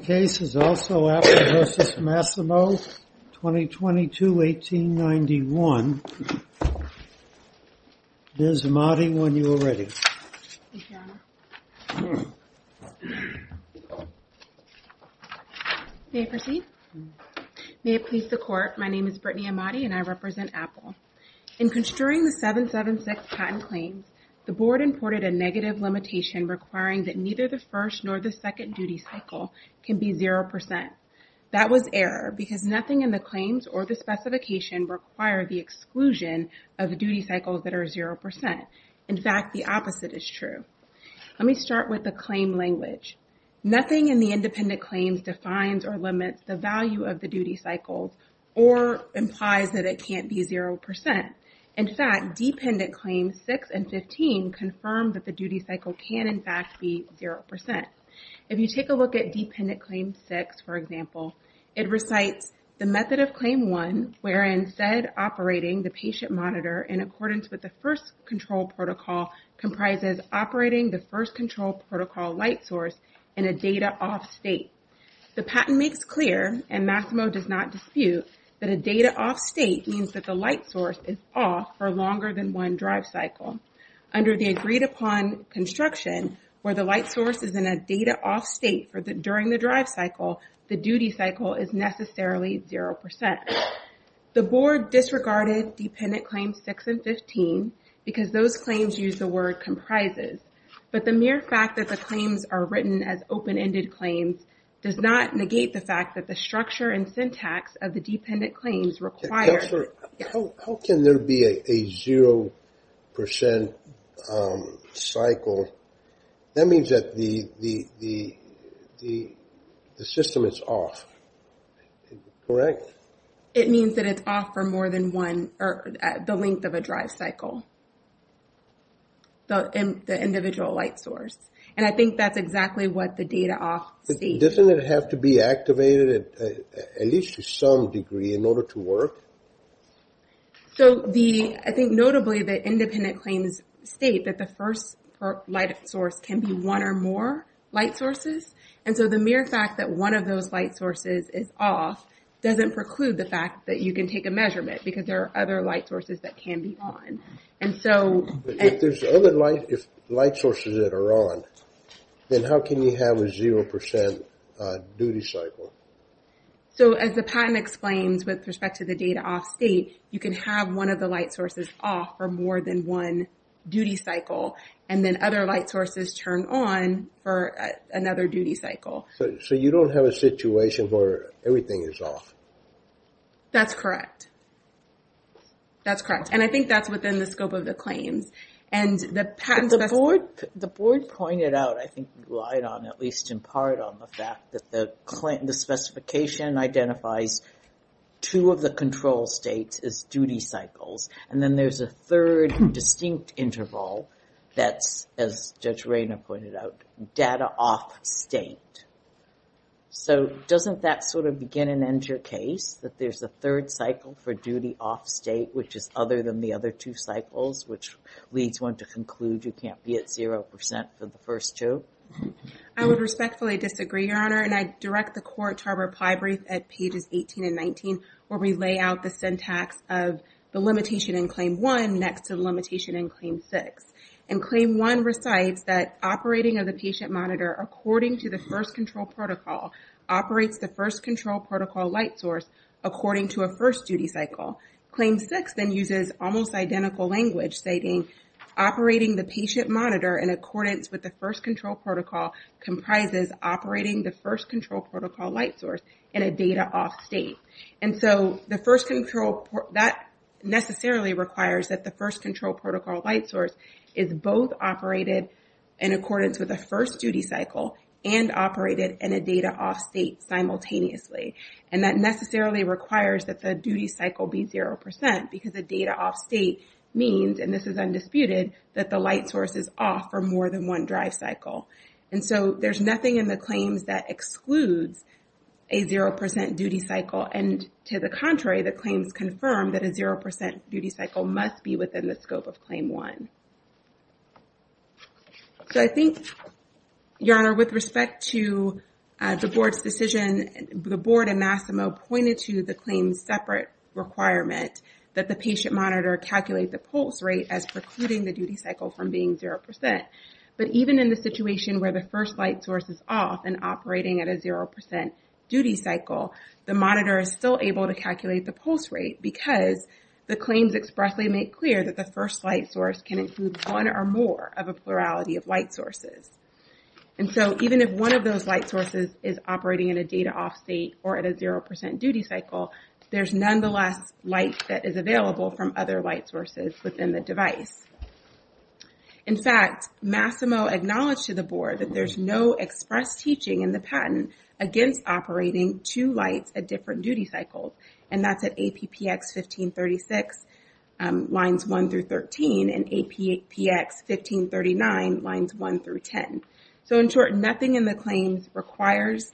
case is also Apple v. Masimo, 2022-1891. Ms. Ahmadi, when you are ready. Thank you, Your Honor. May I proceed? May it please the Court, my name is Brittany Ahmadi and I represent Apple. In construing the 776 patent claims, the Board imported a negative limitation requiring that neither the first nor the second duty cycle can be 0%. That was error because nothing in the claims or the specification require the exclusion of the duty cycles that are 0%. In fact, the opposite is true. Let me start with the claim language. Nothing in the independent claims defines or limits the value of the duty cycles or implies that it can't be 0%. In fact, dependent claims 6 and 15 confirm that the duty cycle can in fact be 0%. If you take a look at dependent claim 6, for example, it recites the method of claim 1 wherein said operating the patient monitor in accordance with the first control protocol comprises operating the first control protocol light source in a data off state. The patent makes clear and Masimo does not dispute that a data off state means that the light source is off for longer than one drive cycle. Under the agreed upon construction where the light source is in a data off state for the during the drive cycle, the duty cycle is necessarily 0%. The Board disregarded dependent claims 6 and 15 because those claims use the word comprises. But the mere fact that the claims are written as open-ended claims does not negate the fact that the structure and syntax of the dependent claims require... How can there be a 0% cycle? That means that the system is off, correct? It means that it's off for more than one or the length of a drive cycle, the individual light source. And I think that's exactly what the data off state... Doesn't it have to be activated at least to some degree in order to work? So the, I think notably the independent claims state that the first light source can be one or more light sources. And so the mere fact that one of those light sources is off doesn't preclude the fact that you can take a measurement because there are other light sources that can be on. And so... If there's other light sources that are on, then how can you have a 0% duty cycle? So as the patent explains with respect to the data off state, you can have one of the light sources off for more than one duty cycle and then other light sources turn on for another duty cycle. So you don't have a situation where everything is off? That's correct. That's correct. And I think that's within the scope of the claims. And the patent... The board pointed out, I think you lied on at least in part on the fact that the specification identifies two of the control states as duty cycles. And then there's a third distinct interval that's, as Judge Rayner pointed out, data off state. So doesn't that sort of begin and end your case that there's a third cycle for duty off state, which is other than the other two cycles, which leads one to conclude you can't be at 0% for the first two? I would respectfully disagree, Your Honor. And I direct the court to our reply brief at pages 18 and 19, where we lay out the syntax of the limitation in Claim 1 next to the limitation in Claim 6. And Claim 1 recites that operating of the patient monitor according to the first control protocol operates the first control protocol light source according to a first duty cycle. Claim 6 then uses almost identical language stating, operating the patient monitor in accordance with the first control protocol comprises operating the first control protocol light source in a data off state. And so the first control... That necessarily requires that the first control protocol light source is both operated in accordance with the first duty cycle and operated in a data off state simultaneously. And that necessarily requires that the duty cycle be 0% because the data off state means, and this is undisputed, that the light source is off for more than one drive cycle. And so there's nothing in the claims that excludes a 0% duty cycle. And to the contrary, the claims confirm that a 0% duty cycle must be within the scope of Claim 1. So I think, Your Honor, with respect to the board's decision, the board in Massimo pointed to the claims separate requirement that the patient monitor calculate the pulse rate as precluding the duty cycle from being 0%. But even in the situation where the first light source is off and operating at a 0% duty cycle, the monitor is still able to calculate the pulse rate because the claims expressly make clear that the first light source can include one or more of a plurality of light sources. And so even if one of those light sources is operating in a data off state or at a 0% duty cycle, there's nonetheless light that is available from other light sources within the device. In fact, Massimo acknowledged to the board that there's no express teaching in the patent against operating two lights at different duty cycles. And that's at APPX 1536 lines 1 through 13 and APPX 1539 lines 1 through 10. So in short, nothing in the claims requires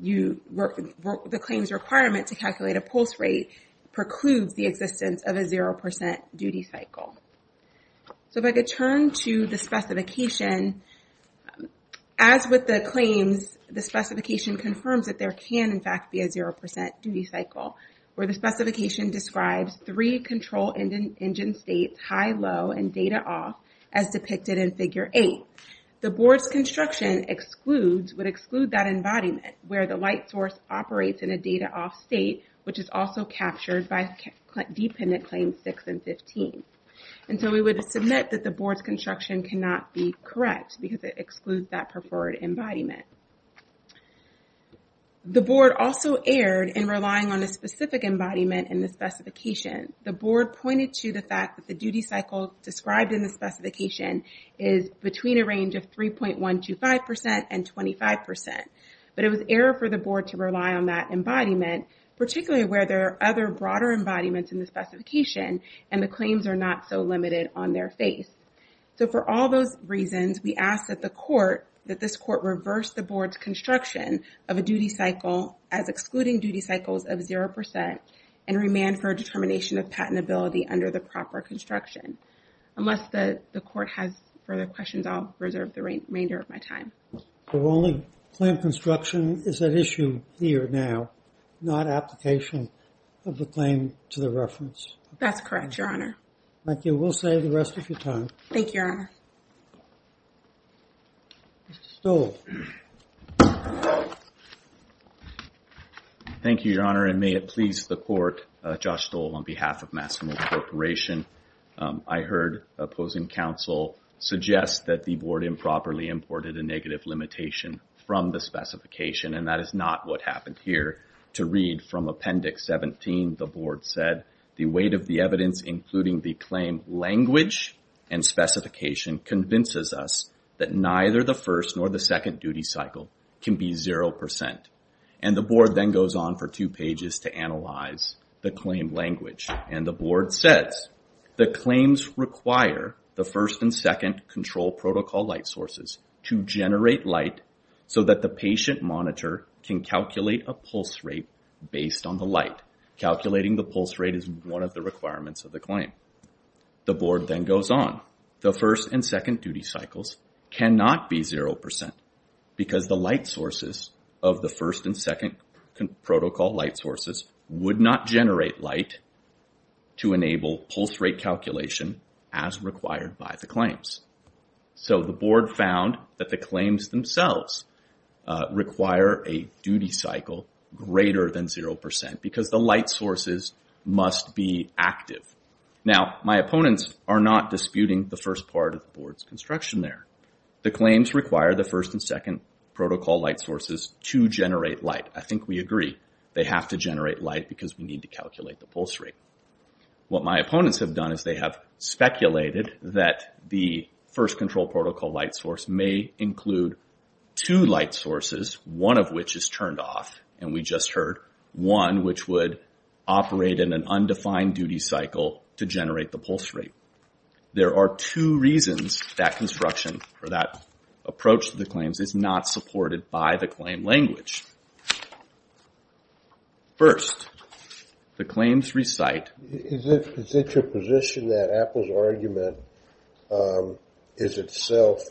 you... The claims requirement to calculate a pulse rate precludes the existence of a 0% duty cycle. So if I could turn to the specification, as with the claims, the specification confirms that there can in fact be a 0% duty cycle, where the specification describes three control engine states, high, low, and data off as depicted in figure eight. The board's construction excludes, would exclude that embodiment where the light source operates in a data off state, which is also captured by dependent claims six and 15. And so we would submit that the board's construction cannot be correct because it excludes that preferred embodiment. The board also erred in relying on a specific embodiment in the specification. The board pointed to the fact that the duty cycle described in the specification is between a range of 3.125% and 25%. But it was error for the board to rely on that embodiment, particularly where there are other broader embodiments in the specification and the claims are not so limited on their face. So for all those reasons, we ask that the court, that this court reverse the board's construction of a duty cycle as excluding duty cycles of 0% and remand for a determination of patentability under the proper construction. Unless the court has further questions, I'll reserve the remainder of my time. The only claim construction is at issue here now, not application of the claim to the reference. That's correct, your honor. Thank you. We'll save the rest of your time. Thank you, your honor. Mr. Stoll. Thank you, your honor, and may it please the court, Josh Stoll on behalf of Massimo Corporation. I heard opposing counsel suggest that the board improperly imported a negative limitation from the specification, and that is not what happened here. To read from appendix 17, the board said, the weight of the evidence, including the claim language and specification, convinces us that neither the first nor the second duty cycle can be 0%. And the board then goes on for two pages to analyze the claim language. And the board says, the claims require the first and second control protocol light sources to generate light so that the patient monitor can calculate a pulse rate based on the light. Calculating the pulse rate is one of the requirements of the claim. The board then goes on. The first and second duty cycles cannot be 0% because the light sources of the first and second protocol light sources would not generate light to enable pulse rate calculation as required by the claims. So the board found that the claims themselves require a duty cycle greater than 0% because the light sources must be active. Now, my opponents are not disputing the first part of the board's construction there. The claims require the first and second protocol light sources to generate light. I think we agree. They have to generate light because we need to calculate the pulse rate. What my opponents have done is they have speculated that the first control protocol light source may include two light sources, one of which is turned off, and we just heard, one which would operate in an undefined duty cycle to generate the pulse rate. There are two reasons that construction, or that approach to the claims, is not supported by the claim language. First, the claims recite... Is it your position that Apple's argument is itself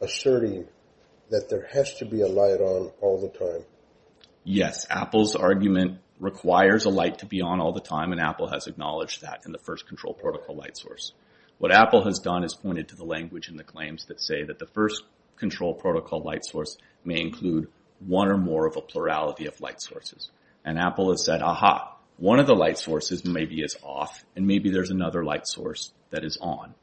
asserting that there has to be a light on all the time? Yes, Apple's argument requires a light to be on all the time, and Apple has acknowledged that in the first control protocol light source. What Apple has done is pointed to the language in the claims that say that the first control protocol light source may include one or more of a plurality of light sources. And Apple has said, aha, one of the light sources maybe is off, and maybe there's another light source that is on.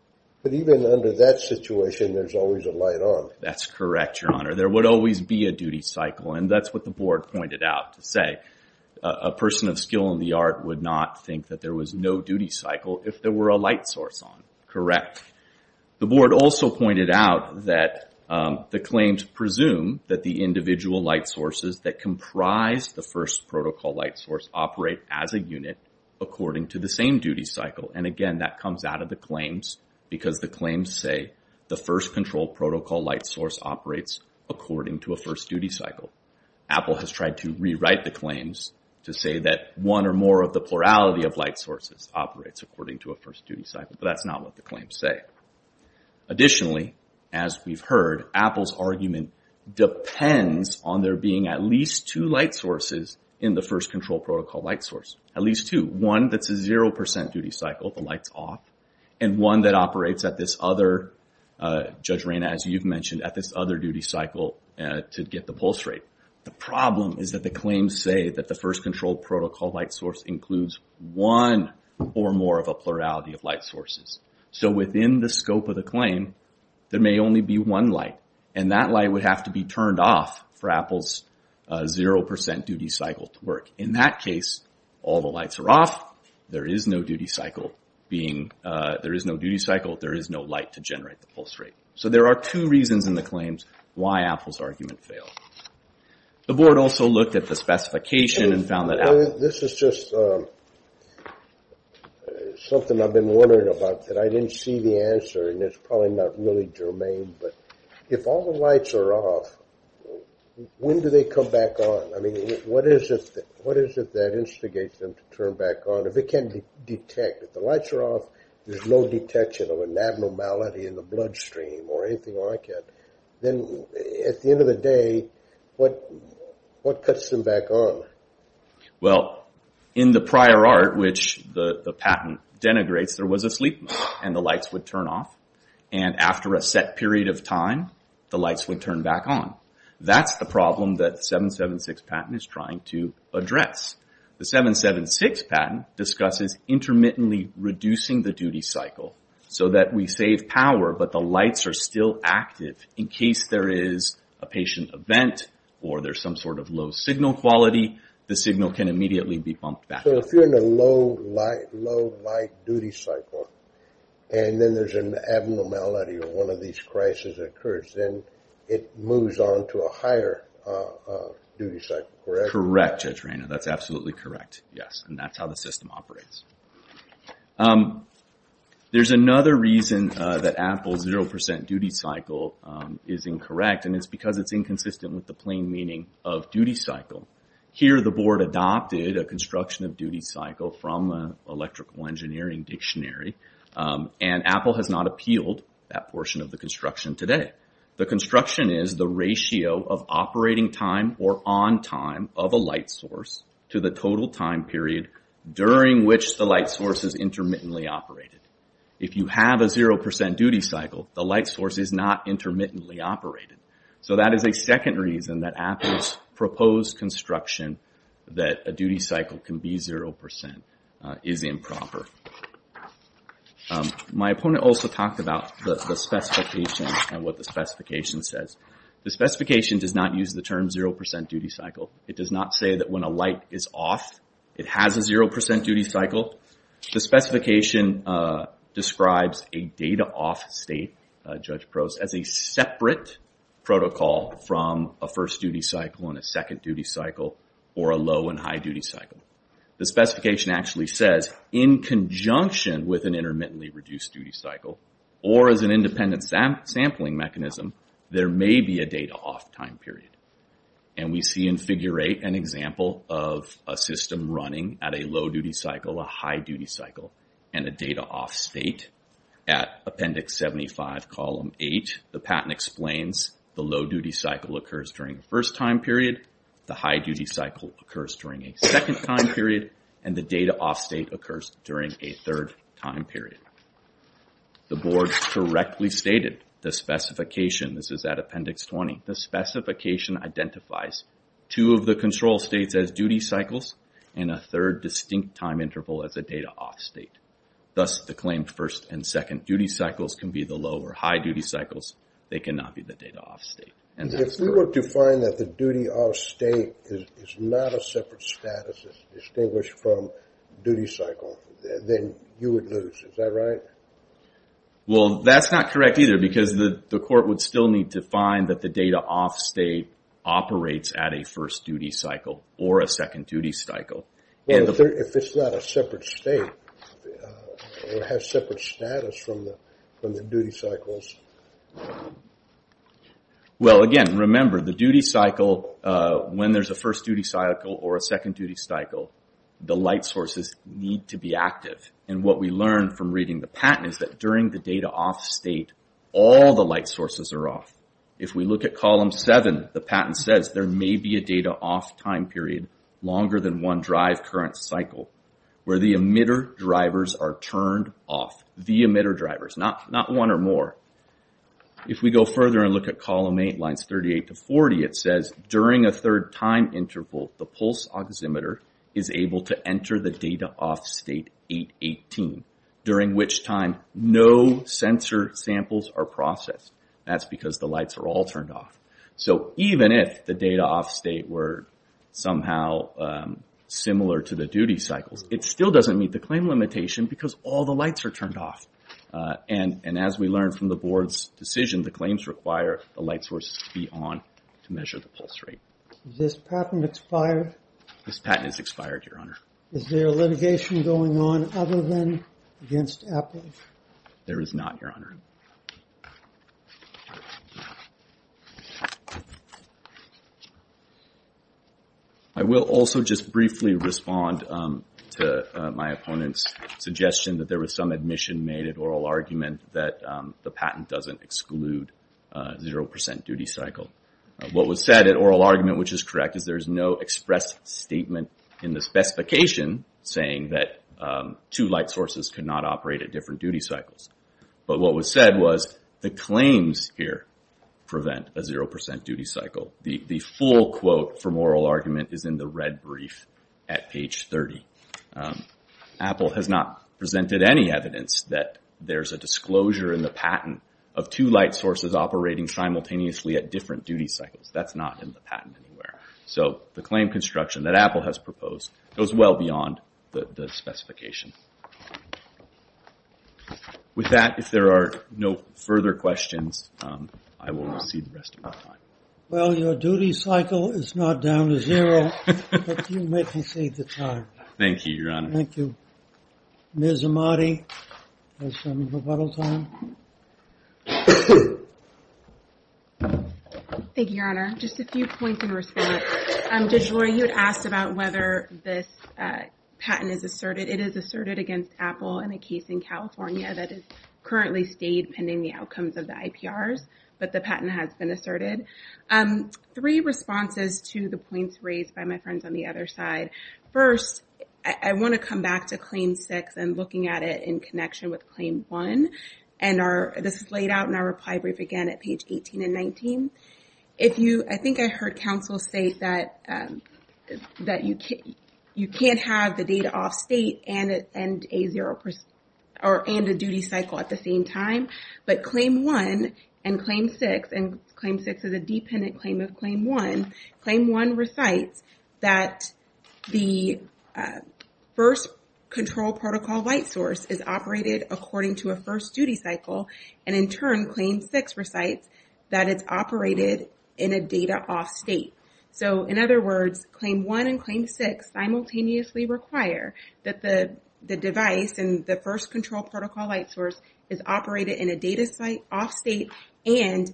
But even under that situation, there's always a light on. That's correct, Your Honor. There would always be a duty cycle, and that's what the board pointed out to say. A person of skill in the art would not think that there was no duty cycle if there were a light source on, correct. The board also pointed out that the claims presume that the individual light sources that comprise the first protocol light source operate as a unit according to the same duty cycle. And again, that comes out of the claims, because the claims say the first control protocol light source operates according to a first duty cycle. Apple has tried to rewrite the claims to say that one or more of the plurality of light sources operates according to a first duty cycle, but that's not what the claims say. Additionally, as we've heard, Apple's argument depends on there being at least two light sources in the first control protocol light source. At least two. One that's a zero percent duty cycle, the light's off, and one that operates at this other, Judge Reyna, as you've mentioned, at this other duty cycle to get the pulse rate. The problem is that the claims say that the first control protocol light source includes one or more of a plurality of light sources. So within the scope of the claim, there may only be one light, and that light would have to be turned off for Apple's zero percent duty cycle to work. In that case, all the lights are off, there is no duty cycle being, there is no duty cycle, there is no light to generate the pulse rate. So there are two reasons in the claims why Apple's argument failed. The board also looked at the specification and found that Apple... This is just something I've been wondering about that I didn't see the answer, and it's probably not really germane, but if all the lights are off, when do they come back on? What is it that instigates them to turn back on, if it can't detect, if the lights are off, there's no detection of an abnormality in the bloodstream or anything like that, then at the end of the day, what cuts them back on? Well, in the prior art, which the patent denigrates, there was a sleep mode, and the lights would turn off, and after a set period of time, the lights would turn back on. That's the problem that the 776 patent is trying to address. The 776 patent discusses intermittently reducing the duty cycle, so that we save power, but the lights are still active in case there is a patient event, or there's some sort of low signal quality, the signal can immediately be bumped back on. So if you're in a low light duty cycle, and then there's an abnormality, or one of these crises occurs, then it moves on to a higher duty cycle, correct? Correct, Judge Reyna, that's absolutely correct, yes, and that's how the system operates. There's another reason that Apple's 0% duty cycle is incorrect, and it's because it's inconsistent with the plain meaning of duty cycle. Here the board adopted a construction of duty cycle from an electrical engineering dictionary, and Apple has not appealed that portion of the construction today. The construction is the ratio of operating time, or on time, of a light source to the total time period during which the light source is intermittently operated. If you have a 0% duty cycle, the light source is not intermittently operated. So that is a second reason that Apple's proposed construction, that a duty cycle can be 0%, is improper. My opponent also talked about the specification, and what the specification says. The specification does not use the term 0% duty cycle. It does not say that when a light is off, it has a 0% duty cycle. The specification describes a data off state, Judge Prost, as a separate protocol from a first duty cycle, and a second duty cycle, or a low and high duty cycle. The specification actually says, in conjunction with an intermittently reduced duty cycle, or as an independent sampling mechanism, there may be a data off time period. We see in Figure 8 an example of a system running at a low duty cycle, a high duty cycle, and a data off state. At Appendix 75, Column 8, the patent explains the low duty cycle occurs during the first time period, the high duty cycle occurs during a second time period, and the data off state occurs during a third time period. The board correctly stated the specification, this is at Appendix 20, the specification identifies two of the control states as duty cycles, and a third distinct time interval as a data off state. Thus the claim first and second duty cycles can be the low or high duty cycles, they cannot be the data off state. If we were to find that the duty off state is not a separate status, it's distinguished from duty cycle, then you would lose, is that right? Well that's not correct either, because the court would still need to find that the data off state operates at a first duty cycle, or a second duty cycle. If it's not a separate state, it would have separate status from the duty cycles? Well, again, remember the duty cycle, when there's a first duty cycle or a second duty cycle, the light sources need to be active, and what we learned from reading the patent is that during the data off state, all the light sources are off. If we look at Column 7, the patent says there may be a data off time period longer than one drive current cycle, where the emitter drivers are turned off, the emitter drivers, not one or more. If we go further and look at Column 8, lines 38 to 40, it says during a third time interval, the pulse oximeter is able to enter the data off state 818, during which time no sensor samples are processed. That's because the lights are all turned off. So even if the data off state were somehow similar to the duty cycles, it still doesn't meet the claim limitation because all the lights are turned off, and as we learned from the board's decision, the claims require the light sources to be on to measure the pulse rate. Is this patent expired? This patent is expired, Your Honor. Is there litigation going on other than against Apple? There is not, Your Honor. I will also just briefly respond to my opponent's suggestion that there was some admission made at oral argument that the patent doesn't exclude zero percent duty cycle. What was said at oral argument, which is correct, is there is no express statement in the specification saying that two light sources cannot operate at different duty cycles. But what was said was the claims here prevent a zero percent duty cycle. The full quote from oral argument is in the red brief at page 30. Apple has not presented any evidence that there's a disclosure in the patent of two light sources operating simultaneously at different duty cycles. That's not in the patent anywhere. So the claim construction that Apple has proposed goes well beyond the specification. With that, if there are no further questions, I will recede the rest of my time. Well, your duty cycle is not down to zero, but you may proceed to time. Thank you, Your Honor. Thank you. Ms. Amati has some rebuttal time. Thank you, Your Honor. Just a few points in response. Judge Roy, you had asked about whether this patent is asserted. It is asserted against Apple in a case in California that has currently stayed pending the outcomes of the IPRs, but the patent has been asserted. Three responses to the points raised by my friends on the other side. First, I want to come back to claim six and looking at it in connection with claim one. This is laid out in our reply brief again at page 18 and 19. I think I heard counsel say that you can't have the data off state and a duty cycle at the same time, but claim one and claim six, and claim six is a dependent claim of claim one. Claim one recites that the first control protocol white source is operated according to a first duty cycle, and in turn, claim six recites that it's operated in a data off state. In other words, claim one and claim six simultaneously require that the device and the first control protocol white source is operated in a data off state and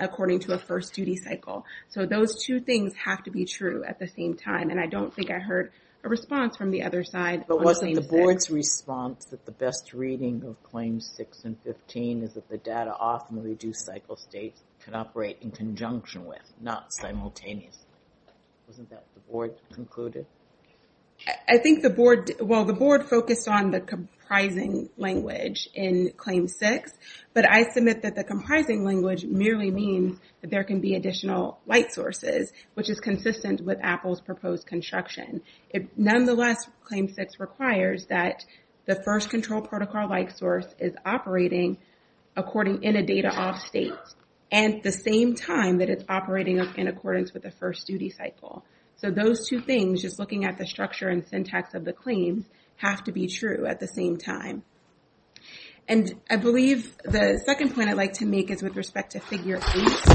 according to a first duty cycle. Those two things have to be true at the same time, and I don't think I heard a response from the other side. But wasn't the board's response that the best reading of claims six and 15 is that the data off and reduced cycle states can operate in conjunction with, not simultaneously? Wasn't that what the board concluded? I think the board, well, the board focused on the comprising language in claim six, but I submit that the comprising language merely means that there can be additional white sources, which is consistent with Apple's proposed construction. Nonetheless, claim six requires that the first control protocol white source is operating according in a data off state and at the same time that it's operating in accordance with the first duty cycle. So those two things, just looking at the structure and syntax of the claims, have to be true at the same time. And I believe the second point I'd like to make is with respect to figure eight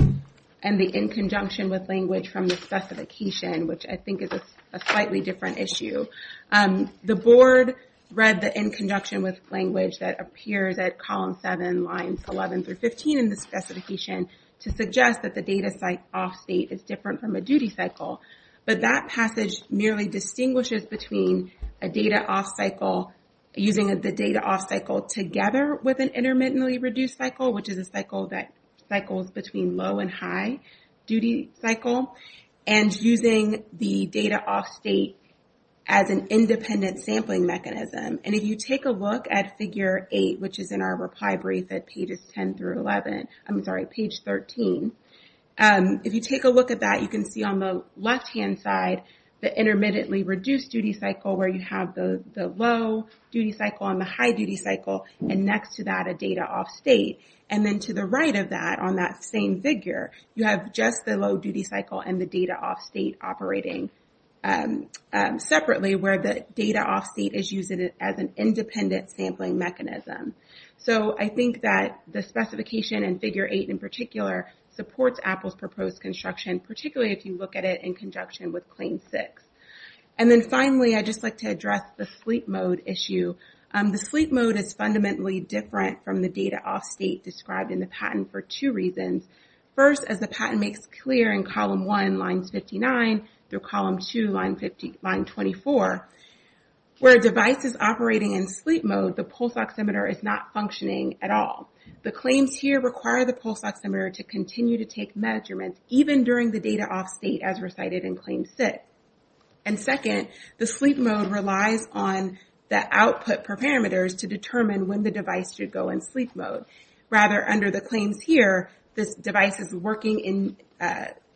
and the in conjunction with language from the specification, which I think is a slightly different issue. The board read the in conjunction with language that appears at column seven, lines 11 through 15 in the specification to suggest that the data off state is different from a duty cycle. But that passage merely distinguishes between a data off cycle, using the data off cycle together with an intermittently reduced cycle, which is a cycle that cycles between low and high duty cycle, and using the data off state as an independent sampling mechanism. And if you take a look at figure eight, which is in our reply brief at pages 10 through 11, I'm sorry, page 13, if you take a look at that, you can see on the left hand side the intermittently reduced duty cycle where you have the low duty cycle and the high duty cycle, and next to that a data off state. And then to the right of that, on that same figure, you have just the low duty cycle and the data off state operating separately, where the data off state is used as an independent sampling mechanism. So I think that the specification in figure eight in particular supports Apple's proposed construction, particularly if you look at it in conjunction with claim six. And then finally, I'd just like to address the sleep mode issue. The sleep mode is fundamentally different from the data off state described in the patent for two reasons. First, as the patent makes clear in column one, line 59, through column two, line 24, where a device is operating in sleep mode, the pulse oximeter is not functioning at all. The claims here require the pulse oximeter to continue to take measurements, even during the data off state as recited in claim six. And second, the sleep mode relies on the output parameters to determine when the device should go in sleep mode. Rather, under the claims here, this device is working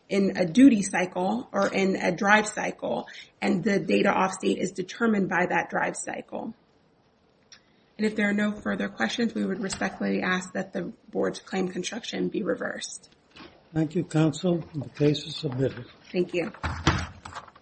in a duty cycle or in a drive cycle, and the data off state is determined by that drive cycle. And if there are no further questions, we would respectfully ask that the board's claim construction be reversed. Thank you, counsel. The case is submitted. Thank you. Thank you.